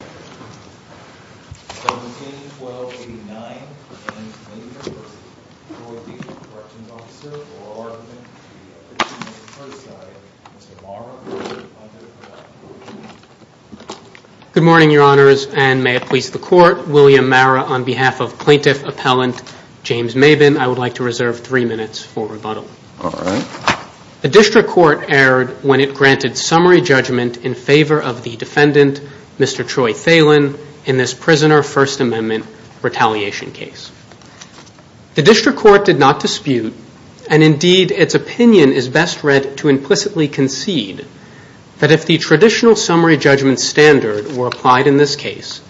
Good morning, Your Honors, and may it please the Court, William Mara on behalf of Plaintiff Appellant James Maben, I would like to reserve three minutes for rebuttal. The District Court erred when it granted summary judgment in favor of the defendant, Mr. Troy Thelen, in this prisoner First Amendment retaliation case. The District Court did not dispute, and indeed its opinion is best read to implicitly concede, that if the traditional summary judgment standard were applied in this case,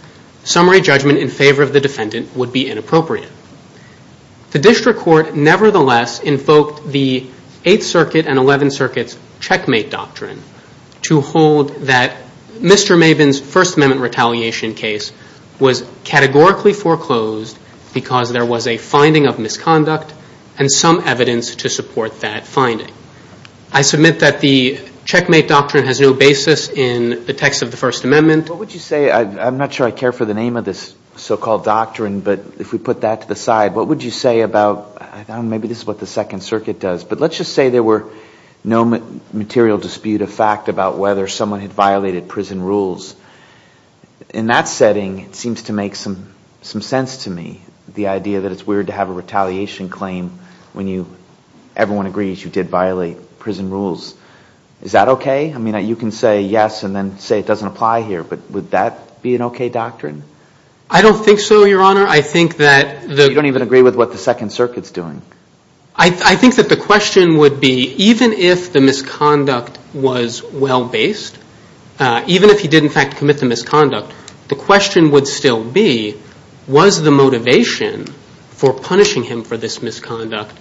summary judgment in favor of the defendant would be inappropriate. The District Court nevertheless invoked the 8th Circuit and 11th Circuit's Checkmate Doctrine to hold that Mr. Maben's First Amendment retaliation case was categorically foreclosed because there was a finding of misconduct and some evidence to support that finding. I submit that the Checkmate Doctrine has no basis in the text of the First Amendment. What would you say, I'm not sure I care for the name of this so-called doctrine, but if we put that to the side, what would you say about, I don't know, maybe this is what the Second Circuit does, but let's just say there were no material dispute of fact about whether someone had violated prison rules. In that setting, it seems to make some sense to me, the idea that it's weird to have a retaliation claim when everyone agrees you did violate prison rules. Is that okay? I mean, you can say yes and then say it doesn't apply here, but would that be an okay doctrine? I don't think so, Your Honor. I think that the- You don't even agree with what the Second Circuit's doing. I think that the question would be, even if the misconduct was well-based, even if he did in fact commit the misconduct, the question would still be, was the motivation for punishing him for this misconduct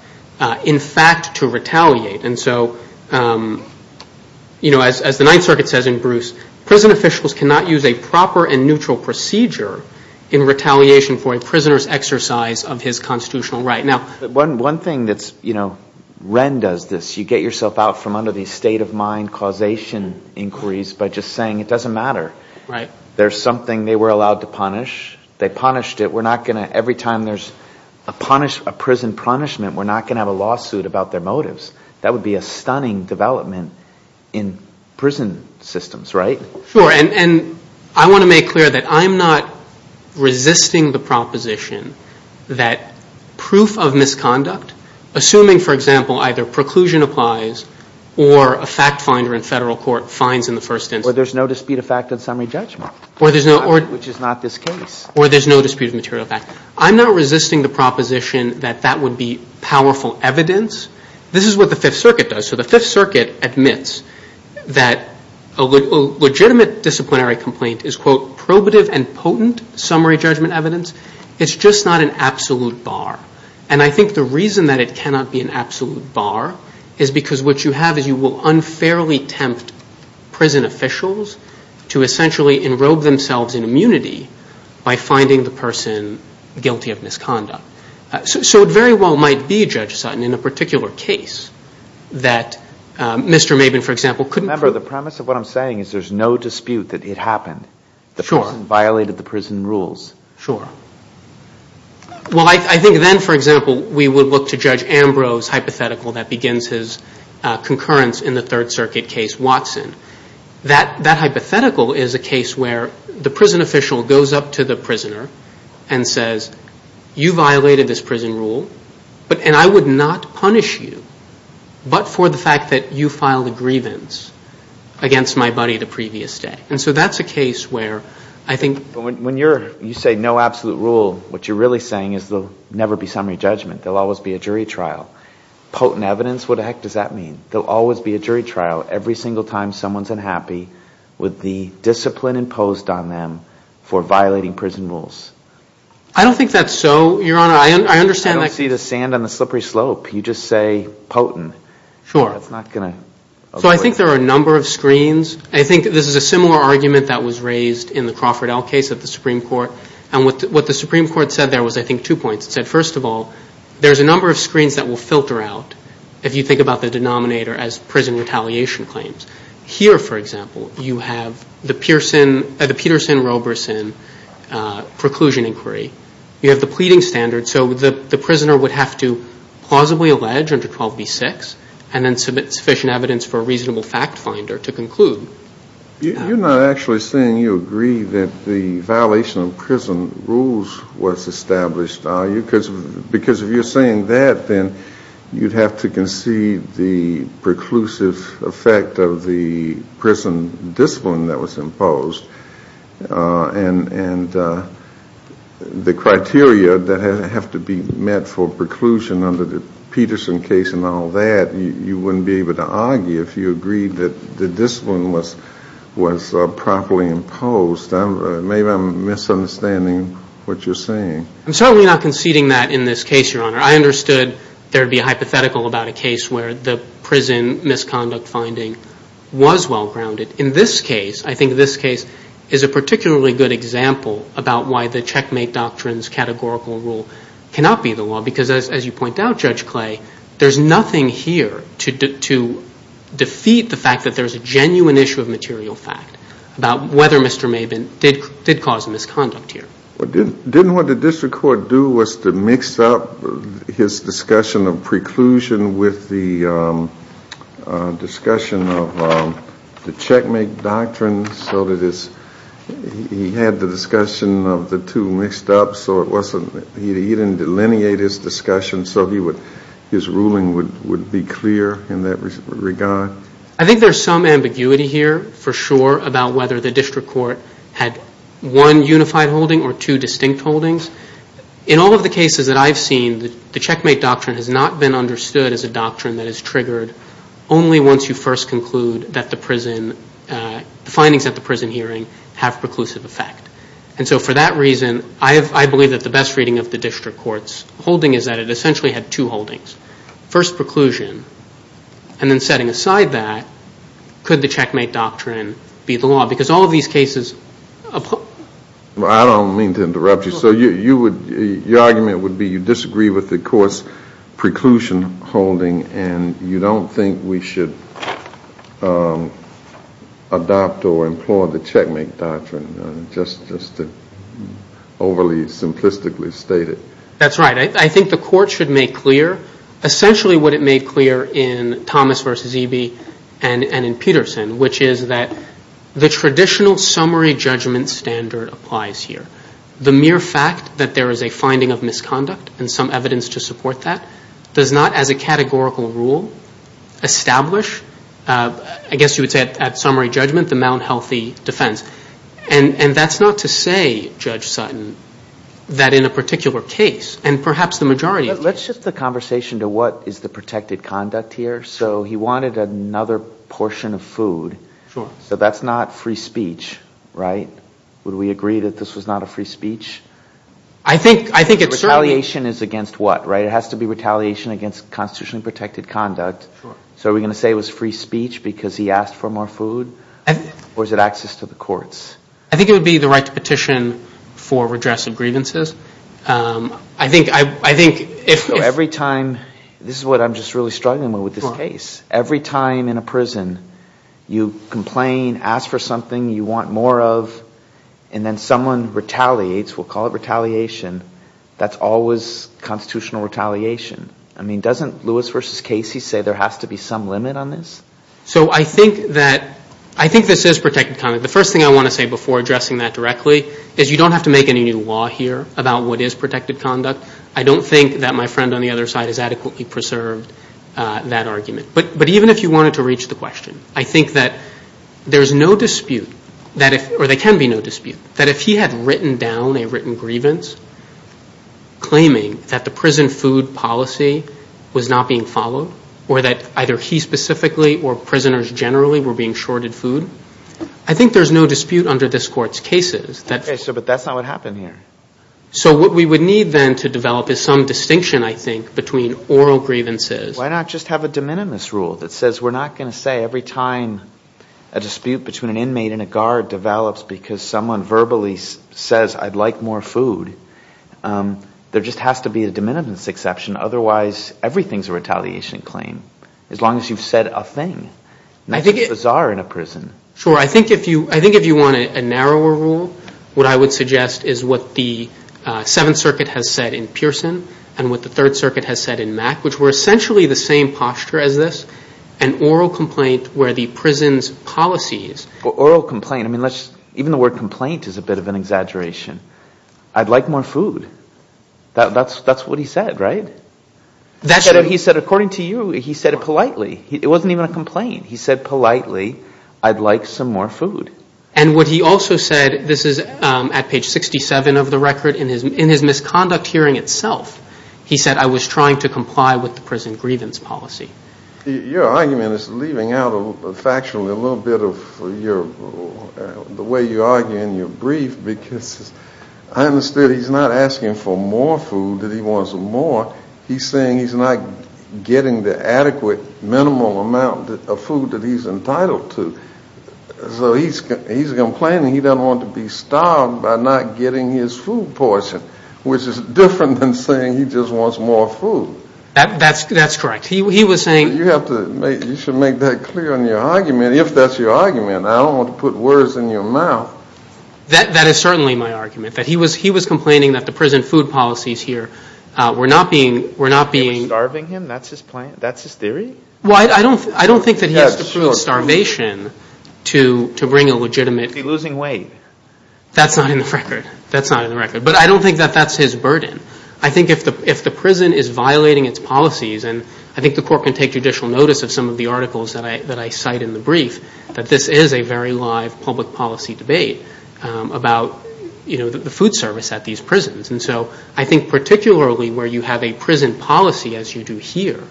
in fact to retaliate? And so, you know, as the Ninth Circuit says in Bruce, prison officials cannot use a proper and neutral procedure in retaliation for a prisoner's exercise of his constitutional right. Now- One thing that's, you know, Wren does this. You get yourself out from under the state-of-mind causation inquiries by just saying it doesn't matter. Right. There's something they were allowed to punish. They punished it. We're not going to, every time there's a prison punishment, we're not going to have a lawsuit about their motives. That would be a stunning development in prison systems, right? Sure. And I want to make clear that I'm not resisting the proposition that proof of misconduct, assuming, for example, either preclusion applies or a fact finder in federal court finds in the first instance- Well, there's no dispute of fact in summary judgment, which is not this case. Or there's no dispute of material fact. I'm not resisting the proposition that that would be powerful evidence. This is what the Fifth Circuit does. So the Fifth Circuit admits that a legitimate disciplinary complaint is, quote, probative and potent summary judgment evidence. It's just not an absolute bar. And I think the reason that it cannot be an absolute bar is because what you have is you will unfairly tempt prison officials to essentially enrobe themselves in immunity by finding the person guilty of misconduct. So it very well might be, Judge Sutton, in a particular case that Mr. Mabin, for example, couldn't prove- Remember, the premise of what I'm saying is there's no dispute that it happened. The person violated the prison rules. Sure. Well, I think then, for example, we would look to Judge Ambrose's hypothetical that begins his concurrence in the Third Circuit case, Watson. That hypothetical is a case where the prison official goes up to the prisoner and says, you violated this prison rule, and I would not punish you but for the fact that you filed a grievance against my buddy the previous day. And so that's a case where I think- But when you say no absolute rule, what you're really saying is there'll never be summary judgment. There'll always be a jury trial. Potent evidence? What the heck does that mean? There'll always be a jury trial every single time someone's unhappy with the discipline imposed on them for violating prison rules. I don't think that's so, Your Honor. I understand that- I don't see the sand on the slippery slope. You just say potent. Sure. That's not going to- So I think there are a number of screens. I think this is a similar argument that was raised in the Crawford L case at the Supreme Court. And what the Supreme Court said there was, I think, two points. It said, first of all, there's a number of screens that will filter out if you think about the denominator as prison retaliation claims. Here, for example, you have the Peterson-Robertson preclusion inquiry. You have the pleading standard. So the prisoner would have to plausibly allege under 12b-6 and then submit sufficient evidence for a reasonable fact finder to conclude. You're not actually saying you agree that the violation of prison rules was established. Because if you're saying that, then you'd have to concede the preclusive effect of the prison discipline that was imposed. And the criteria that have to be met for preclusion under the Peterson case and all that, you wouldn't be able to argue if you agreed that the discipline was properly imposed. Maybe I'm misunderstanding what you're saying. I'm certainly not conceding that in this case, Your Honor. I understood there'd be a hypothetical about a case where the prison misconduct finding was well-grounded. In this case, I think this case is a particularly good example about why the checkmate doctrine's categorical rule cannot be the law. Because as you point out, Judge Clay, there's nothing here to defeat the fact that there's a genuine issue of material fact about whether Mr. Maben did cause misconduct here. Didn't what the district court do was to mix up his discussion of preclusion with the discussion of the checkmate doctrine so that he had the discussion of the two mixed up so he didn't delineate his discussion so his ruling would be clear in that regard? I think there's some ambiguity here for sure about whether the district court had one unified holding or two distinct holdings. In all of the cases that I've seen, the checkmate doctrine has not been understood as a doctrine that is triggered only once you first conclude that the findings at the prison hearing have preclusive effect. And so for that reason, I believe that the best reading of the district court's holding is that it essentially had two holdings. First preclusion, and then setting aside that, could the checkmate doctrine be the law? Because all of these cases... I don't mean to interrupt you. So your argument would be you disagree with the court's preclusion holding and you don't think we should adopt or employ the checkmate doctrine, just to overly simplistically state it. That's right. I think the court should make clear essentially what it made clear in Thomas versus Eby and in Peterson, which is that the traditional summary judgment standard applies here. The mere fact that there is a finding of misconduct and some evidence to support that does not, as a categorical rule, establish, I guess you would say at summary judgment, the malhealthy defense. And that's not to say, Judge Sutton, that in a particular case, and perhaps the majority of cases... Let's shift the conversation to what is the protected conduct here. So he wanted another portion of food. So that's not free speech, right? Would we agree that this was not a free speech? I think it's certainly... Retaliation is against what, right? It has to be retaliation against constitutionally protected conduct. So are we going to say it was free speech because he asked for more food or is it access to the courts? I think it would be the right to petition for redress of grievances. I think if... So every time... This is what I'm just really struggling with this case. Every time in a prison you complain, ask for something you want more of, and then someone retaliates, we'll call it retaliation, that's always constitutional retaliation. I mean, doesn't Lewis v. Casey say there has to be some limit on this? So I think that... I think this is protected conduct. The first thing I want to say before addressing that directly is you don't have to make any new law here about what is protected conduct. I don't think that my friend on the other side has adequately preserved that argument. But even if you wanted to reach the question, I think that there's no dispute that if... Or there can be no dispute. That if he had written down a written grievance claiming that the prison food policy was not being followed or that either he specifically or prisoners generally were being shorted food, I think there's no dispute under this court's cases that... Okay, so but that's not what happened here. So what we would need then to develop is some distinction, I think, between oral grievances... If someone verbally says, I'd like more food, there just has to be a de minimis exception, otherwise, everything's a retaliation claim, as long as you've said a thing. That's bizarre in a prison. Sure. I think if you want a narrower rule, what I would suggest is what the Seventh Circuit has said in Pearson and what the Third Circuit has said in Mack, which were essentially the same posture as this, an oral complaint where the prison's policies... Or oral complaint. Even the word complaint is a bit of an exaggeration. I'd like more food. That's what he said, right? He said, according to you, he said it politely. It wasn't even a complaint. He said politely, I'd like some more food. And what he also said, this is at page 67 of the record, in his misconduct hearing itself, he said, I was trying to comply with the prison grievance policy. Your argument is leaving out factually a little bit of the way you argue in your brief, because I understood he's not asking for more food, that he wants more. He's saying he's not getting the adequate, minimal amount of food that he's entitled to. So he's complaining he doesn't want to be starved by not getting his food portion, which is different than saying he just wants more food. That's correct. He was saying... You have to make... You should make that clear in your argument, if that's your argument. I don't want to put words in your mouth. That is certainly my argument, that he was complaining that the prison food policies here were not being... They were starving him? That's his plan? That's his theory? Well, I don't think that he has to prove starvation to bring a legitimate... He's losing weight. That's not in the record. That's not in the record. But I don't think that that's his burden. I think if the prison is violating its policies... And I think the court can take judicial notice of some of the articles that I cite in the brief, that this is a very live public policy debate about the food service at these prisons. And so I think particularly where you have a prison policy, as you do here,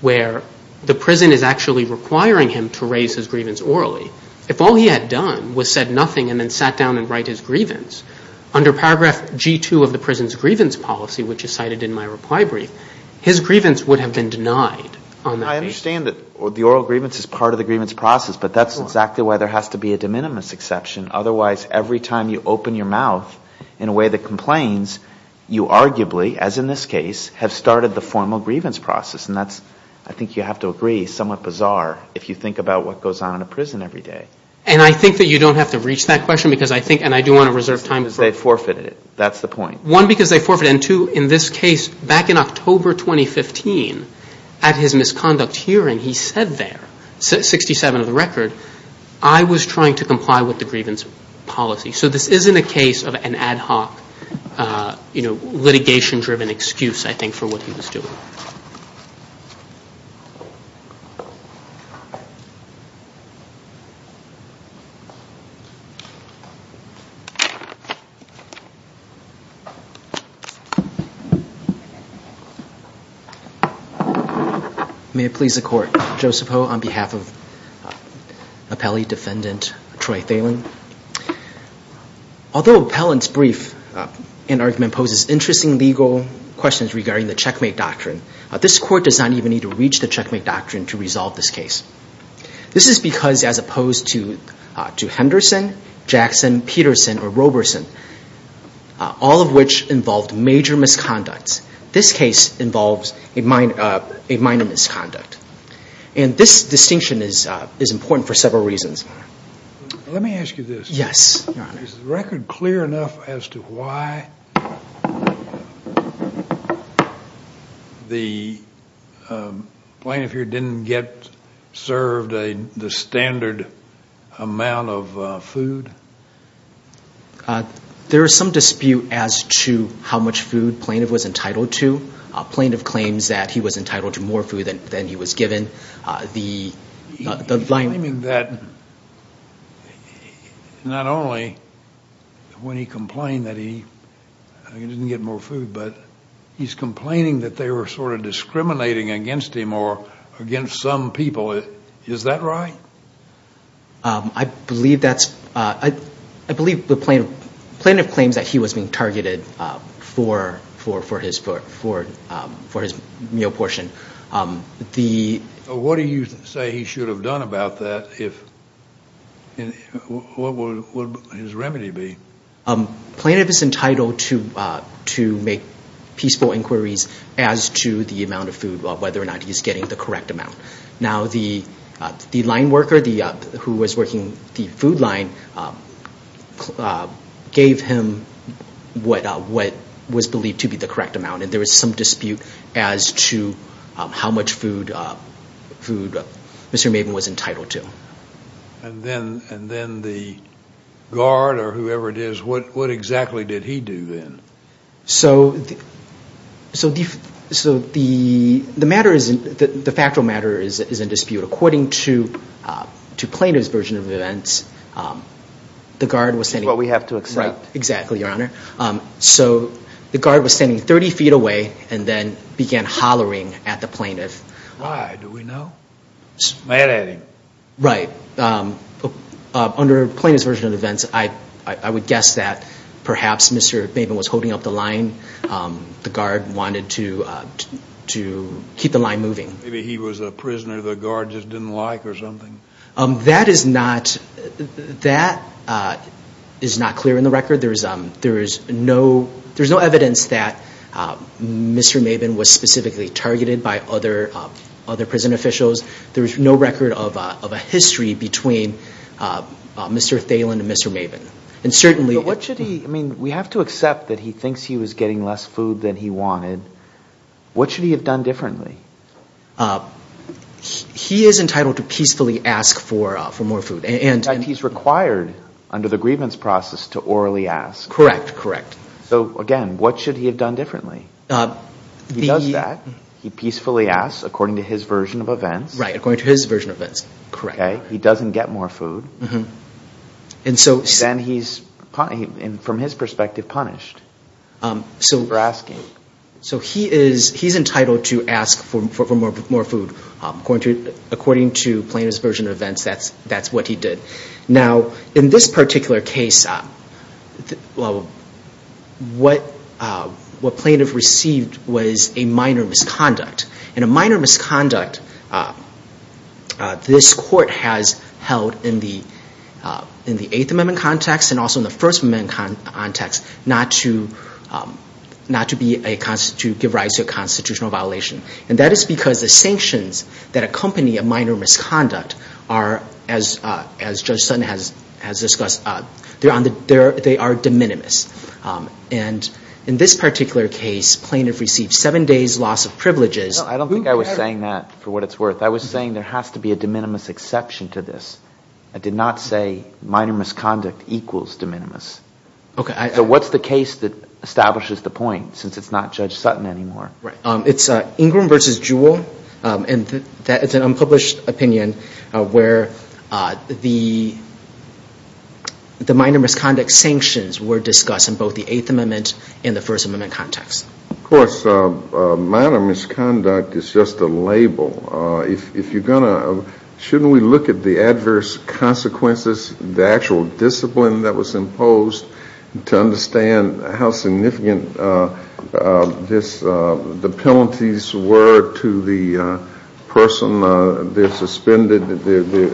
where the prison is actually requiring him to raise his grievance orally, if all he had done was said nothing and then sat down and write his grievance, under paragraph G2 of the prison's grievance policy, which is cited in my reply brief, his grievance would have been denied on that day. I understand that the oral grievance is part of the grievance process, but that's exactly why there has to be a de minimis exception. Otherwise, every time you open your mouth in a way that complains, you arguably, as in this case, have started the formal grievance process. And that's, I think you have to agree, somewhat bizarre if you think about what goes on in a prison every day. And I think that you don't have to reach that question because I think... Because they forfeited it. That's the point. One, because they forfeited it. And two, in this case, back in October 2015, at his misconduct hearing, he said there, 67 of the record, I was trying to comply with the grievance policy. So this isn't a case of an ad hoc litigation-driven excuse, I think, for what he was doing. Thank you. May it please the court. Joseph Ho on behalf of appellee defendant Troy Thelen. Although appellant's brief and argument poses interesting legal questions regarding the checkmate doctrine, this court does not even need to reach the checkmate doctrine to resolve this All of which involved major misconducts. This case involves a minor misconduct. And this distinction is important for several reasons. Let me ask you this. Yes. Is the record clear enough as to why the plaintiff here didn't get served the standard amount of food? There is some dispute as to how much food plaintiff was entitled to. Plaintiff claims that he was entitled to more food than he was given. He's claiming that not only when he complained that he didn't get more food, but he's complaining that they were sort of discriminating against him or against some people. Is that right? I believe that's, I believe the plaintiff claims that he was being targeted for his meal portion. What do you say he should have done about that? If, what would his remedy be? Plaintiff is entitled to make peaceful inquiries as to the amount of food, whether or not he's getting the correct amount. Now the line worker who was working the food line gave him what was believed to be the correct amount. And there was some dispute as to how much food Mr. Maven was entitled to. And then the guard or whoever it is, what exactly did he do then? So the matter isn't, the factual matter is in dispute. According to plaintiff's version of events, the guard was standing... What we have to accept. Right. Exactly, Your Honor. So the guard was standing 30 feet away and then began hollering at the plaintiff. Why? Do we know? Smat at him. Right. But under plaintiff's version of events, I would guess that perhaps Mr. Maven was holding up the line. The guard wanted to keep the line moving. Maybe he was a prisoner the guard just didn't like or something. That is not clear in the record. There's no evidence that Mr. Maven was specifically targeted by other prison officials. There's no record of a history between Mr. Thalen and Mr. Maven. And certainly... But what should he... I mean, we have to accept that he thinks he was getting less food than he wanted. What should he have done differently? He is entitled to peacefully ask for more food and... He's required under the grievance process to orally ask. Correct, correct. So again, what should he have done differently? He does that. He peacefully asks according to his version of events. Right. According to his version of events. Correct. He doesn't get more food. Then he's, from his perspective, punished for asking. So he's entitled to ask for more food. According to plaintiff's version of events, that's what he did. Now, in this particular case, what plaintiff received was a minor misconduct. And a minor misconduct, this court has held in the Eighth Amendment context and also in the First Amendment context, not to give rise to a constitutional violation. And that is because the sanctions that accompany a minor misconduct are, as Judge Sutton has discussed, they are de minimis. And in this particular case, plaintiff received seven days loss of privileges. I don't think I was saying that for what it's worth. I was saying there has to be a de minimis exception to this. I did not say minor misconduct equals de minimis. So what's the case that establishes the point, since it's not Judge Sutton anymore? It's Ingram v. Jewell. And that is an unpublished opinion where the minor misconduct sanctions were discussed in both the Eighth Amendment and the First Amendment context. Of course, minor misconduct is just a label. Shouldn't we look at the adverse consequences, the actual discipline that was imposed to understand how significant the penalties were to the person?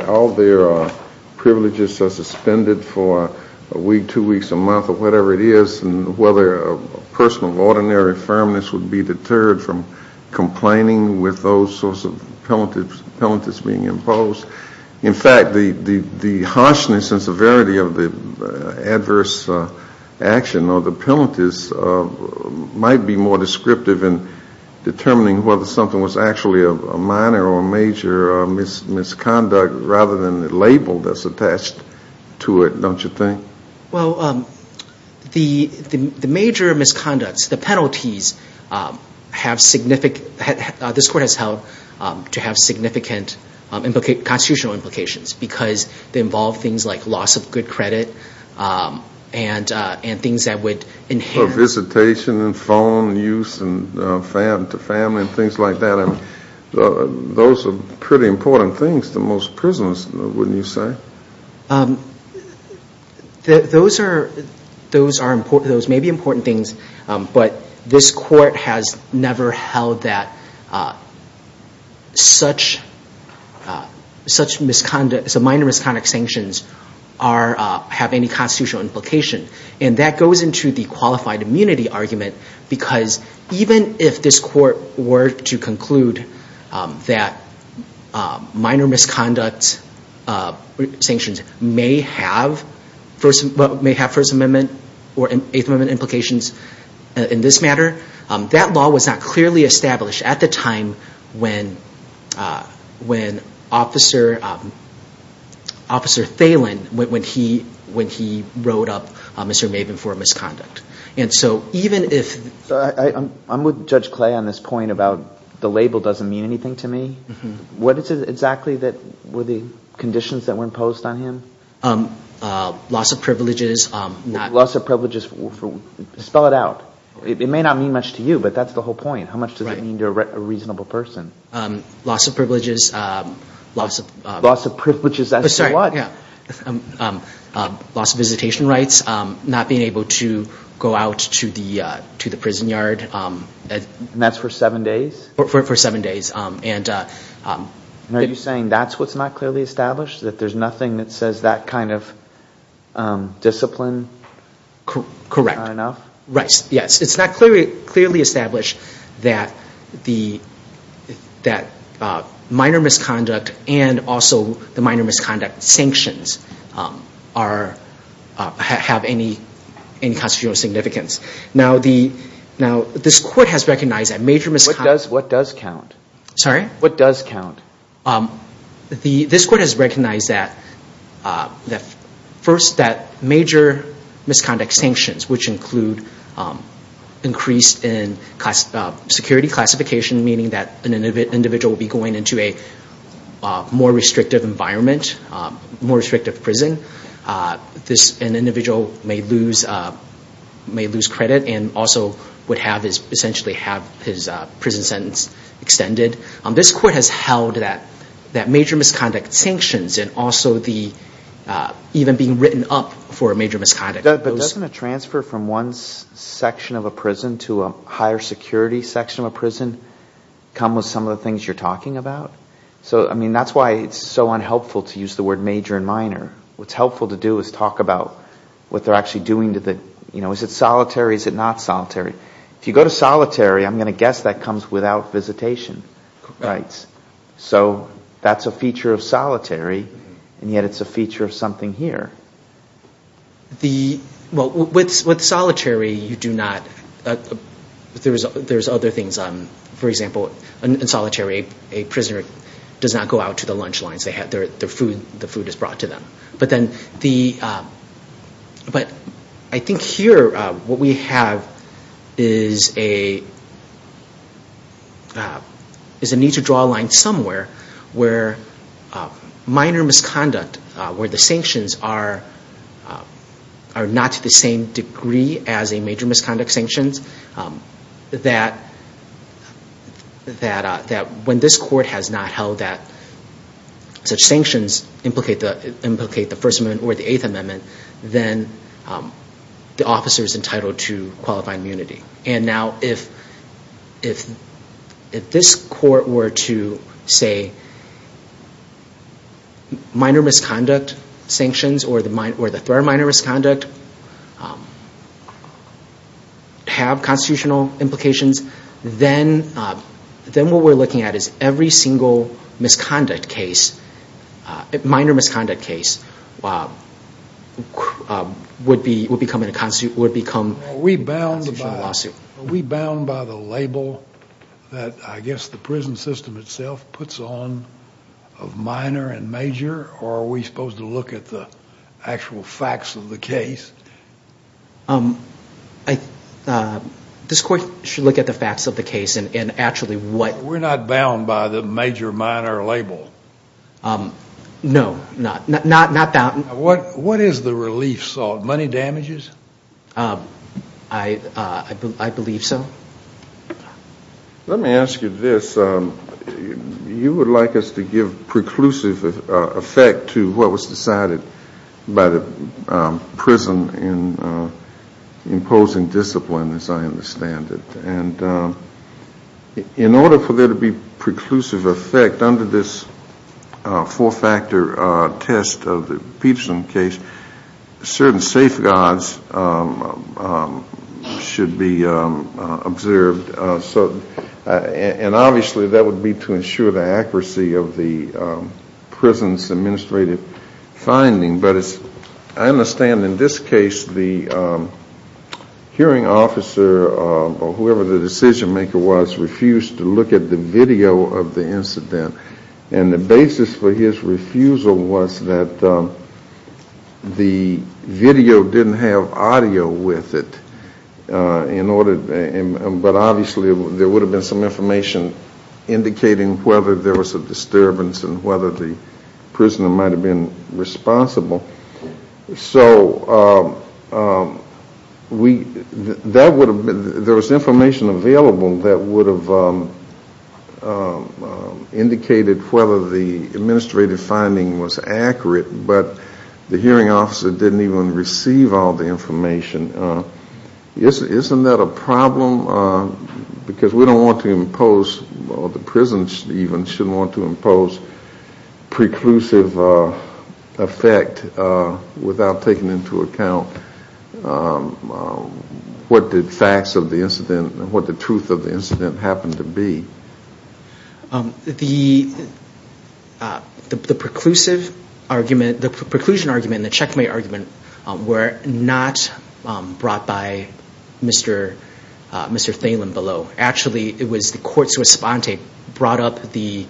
All their privileges are suspended for a week, two weeks, a month, or whatever it is, and whether a person of ordinary firmness would be deterred from complaining with those sorts of penalties being imposed. In fact, the harshness and severity of the adverse action or the penalties might be more descriptive in determining whether something was actually a minor or a major misconduct rather than the label that's attached to it, don't you think? Well, the major misconducts, the penalties, have significant... This court has held to have significant constitutional implications because they involve things like loss of good credit and things that would enhance... Visitation and phone use to family and things like that. Those are pretty important things to most prisoners, wouldn't you say? Sure. Those may be important things, but this court has never held that some minor misconduct sanctions have any constitutional implication. And that goes into the qualified immunity argument because even if this court were to conclude that minor misconduct sanctions may have First Amendment or Eighth Amendment implications in this matter, that law was not clearly established at the time when Officer Thalen wrote up Mr. Maven for misconduct. And so even if... I'm with Judge Clay on this point about the label doesn't mean anything to me. What is it exactly that were the conditions that were imposed on him? Loss of privileges. Loss of privileges. Spell it out. It may not mean much to you, but that's the whole point. How much does it mean to a reasonable person? Loss of privileges. Loss of privileges as to what? Loss of visitation rights. Not being able to go out to the prison yard. And that's for seven days? For seven days. Are you saying that's what's not clearly established? That there's nothing that says that kind of discipline? Correct. Yes. It's not clearly established that minor misconduct and also the minor misconduct sanctions have any constitutional significance. Now, this court has recognized that major misconduct... What does count? Sorry? What does count? This court has recognized that, first, that major misconduct sanctions, which include increased security classification, meaning that an individual will be going into a more restrictive environment, more restrictive prison. This individual may lose credit and also would have his prison sentence extended. This court has held that major misconduct sanctions and also even being written up for major misconduct. But doesn't a transfer from one section of a prison to a higher security section of a prison come with some of the things you're talking about? So, I mean, that's why it's so unhelpful to use the word major and minor. What's helpful to do is talk about what they're actually doing to the... Is it solitary? Is it not solitary? If you go to solitary, I'm going to guess that comes without visitation rights. So that's a feature of solitary and yet it's a feature of something here. Well, with solitary, you do not... There's other things. For example, in solitary, a prisoner does not go out to the lunch lines. They have their food. The food is brought to them. But then the... But I think here what we have is a need to draw a line somewhere where minor misconduct, where the sanctions are not to the same degree as a major misconduct sanctions, that when this court has not held that such sanctions implicate the First Amendment or the Eighth Amendment, then the officer is entitled to qualified immunity. And now if this court were to say minor misconduct sanctions or the third minor misconduct have constitutional implications, then what we're looking at is every single misconduct case, minor misconduct case, would become a constitutional lawsuit. Are we bound by the label that I guess the prison system itself puts on of minor and major? Or are we supposed to look at the actual facts of the case? This court should look at the facts of the case and actually what... We're not bound by the major, minor label. No, not bound. What is the relief salt? Money damages? I believe so. Let me ask you this. You would like us to give preclusive effect to what was decided by the prison in imposing discipline, as I understand it. And in order for there to be preclusive effect under this four-factor test of the Peebson case, certain safeguards should be observed. And obviously that would be to ensure the accuracy of the prison's administrative finding. But as I understand in this case, the hearing officer or whoever the decision maker was refused to look at the video of the incident. And the basis for his refusal was that the video didn't have audio with it. But obviously there would have been some information indicating whether there was a disturbance and whether the prisoner might have been responsible. So there was information available that would have indicated whether the administrative finding was accurate, but the hearing officer didn't even receive all the information. Isn't that a problem? Because we don't want to impose, or the prison even shouldn't want to impose, preclusive effect without taking into account what the facts of the incident, what the truth of the incident happened to be. The preclusion argument and the checkmate argument were not brought by Mr. Thalen below. Actually, it was the court's response that brought up the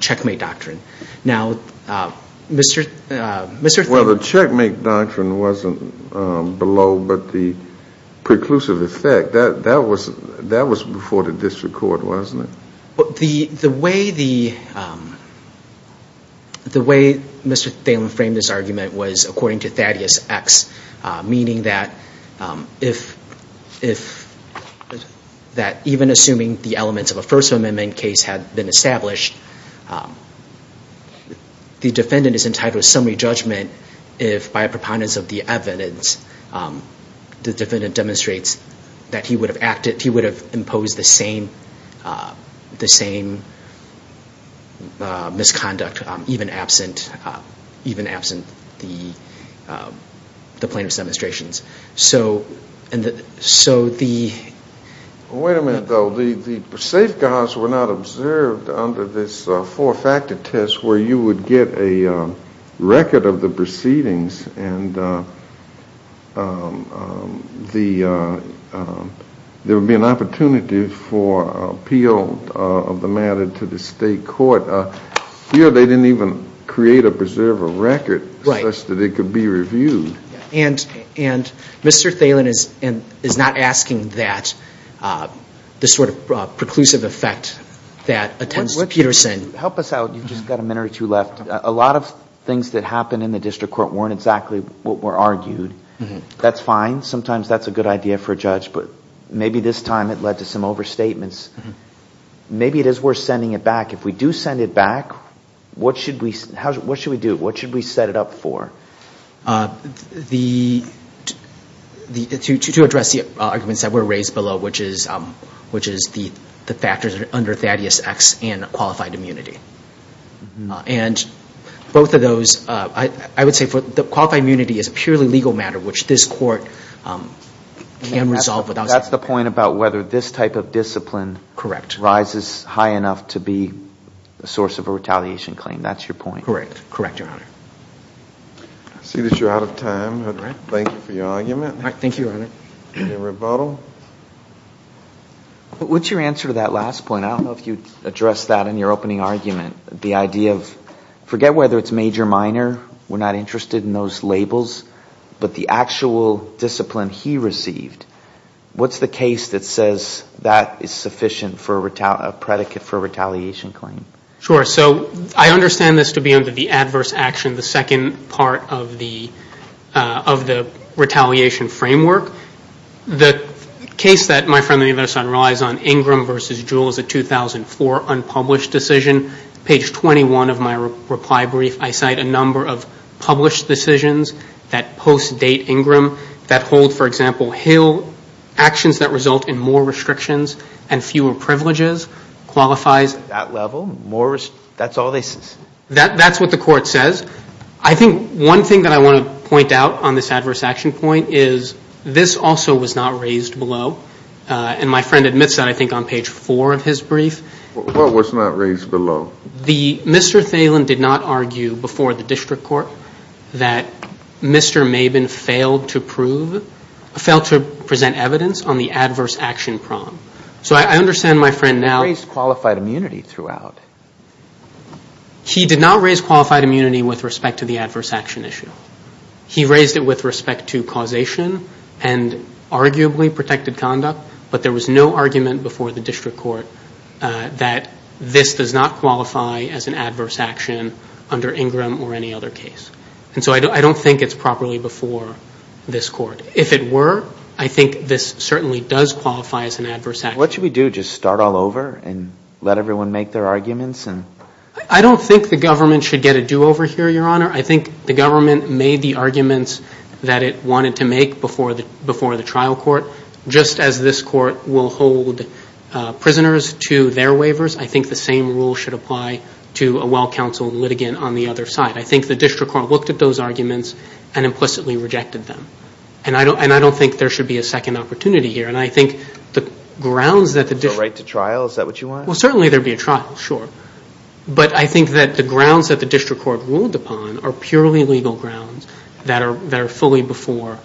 checkmate doctrine. Well, the checkmate doctrine wasn't below, but the preclusive effect, that was before the district court, wasn't it? The way Mr. Thalen framed this argument was according to Thaddeus X, meaning that if that even assuming the elements of a First Amendment case had been established, the defendant is entitled to a summary judgment if by a preponderance of the evidence the defendant demonstrates that he would have acted, he would have imposed the same misconduct even absent the plaintiff's demonstrations. So, and so the... Wait a minute, though. The safeguards were not observed under this four-factor test where you would get a record of the proceedings and there would be an opportunity for appeal of the matter to the state court. Here, they didn't even create a preservable record such that it could be reviewed. And Mr. Thalen is not asking that, this sort of preclusive effect that attends Peterson. Help us out. You've just got a minute or two left. A lot of things that happened in the district court weren't exactly what were argued. That's fine. Sometimes that's a good idea for a judge, but maybe this time it led to some overstatements. Maybe it is worth sending it back. If we do send it back, what should we do? What should we set it up for? To address the arguments that were raised below, which is the factors under Thaddeus X and qualified immunity. And both of those, I would say the qualified immunity is a purely legal matter, which this court can resolve without... That's the point about whether this type of discipline rises high enough to be a source of a retaliation claim. That's your point. Correct. Correct, Your Honor. I see that you're out of time. All right. Thank you for your argument. All right. Thank you, Your Honor. Any rebuttal? What's your answer to that last point? I don't know if you addressed that in your opening argument. The idea of, forget whether it's major, minor. We're not interested in those labels. But the actual discipline he received, what's the case that says that is sufficient for a predicate for a retaliation claim? Sure. I understand this to be under the adverse action, the second part of the retaliation framework. The case that my friend and the other son relies on, Ingram v. Jewell, is a 2004 unpublished decision. Page 21 of my reply brief, I cite a number of published decisions that post-date Ingram that hold, for example, actions that result in more restrictions and fewer privileges, qualifies... At that level, more... That's all they... That's what the court says. I think one thing that I want to point out on this adverse action point is this also was not raised below. And my friend admits that, I think, on page four of his brief. What was not raised below? The... Mr. Thelen did not argue before the district court that Mr. Mabin failed to present evidence on the adverse action problem. So I understand my friend now... Raised qualified immunity throughout. He did not raise qualified immunity with respect to the adverse action issue. He raised it with respect to causation and arguably protected conduct, but there was no argument before the district court that this does not qualify as an adverse action under Ingram or any other case. And so I don't think it's properly before this court. If it were, I think this certainly does qualify as an adverse action. What should we do? Just start all over and let everyone make their arguments and... I don't think the government should get a do-over here, Your Honor. I think the government made the arguments that it wanted to make before the trial court. Just as this court will hold prisoners to their waivers, I think the same rule should apply to a well-counseled litigant on the other side. I think the district court looked at those arguments and implicitly rejected them. And I don't think there should be a second opportunity here. And I think the grounds that the... The right to trial, is that what you want? Well, certainly there'd be a trial, sure. But I think that the grounds that the district court ruled upon are purely legal grounds that are fully before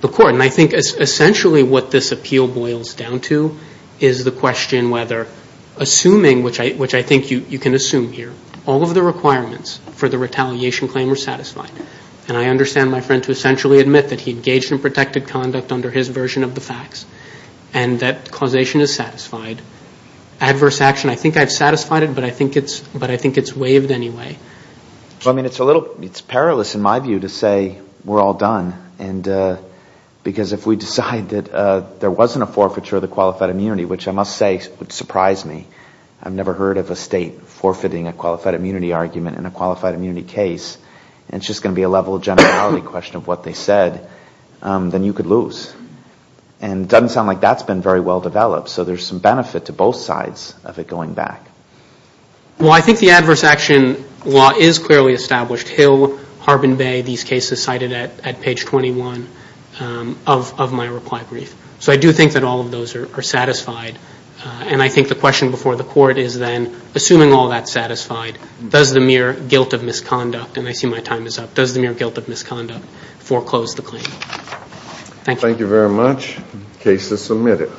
the court. And I think essentially what this appeal boils down to is the question whether assuming, which I think you can assume here, all of the requirements for the retaliation claim were satisfied. And I understand my friend to essentially admit that he engaged in protected conduct under his version of the facts and that causation is satisfied. Adverse action, I think I've satisfied it, but I think it's waived anyway. Well, I mean, it's a little... It's perilous in my view to say we're all done. And because if we decide that there wasn't a forfeiture of the qualified immunity, which I must say would surprise me. I've never heard of a state forfeiting a qualified immunity argument in a qualified immunity case. And it's just going to be a level of generality question of what they said, then you could lose. And it doesn't sound like that's been very well developed. So there's some benefit to both sides of it going back. Well, I think the adverse action law is clearly established. Hill, Harbin Bay, these cases cited at page 21 of my reply brief. So I do think that all of those are satisfied. Does the mere guilt of misconduct, and I see my time is up. Does the mere guilt of misconduct foreclose the claim? Thank you. Thank you very much. Case is submitted.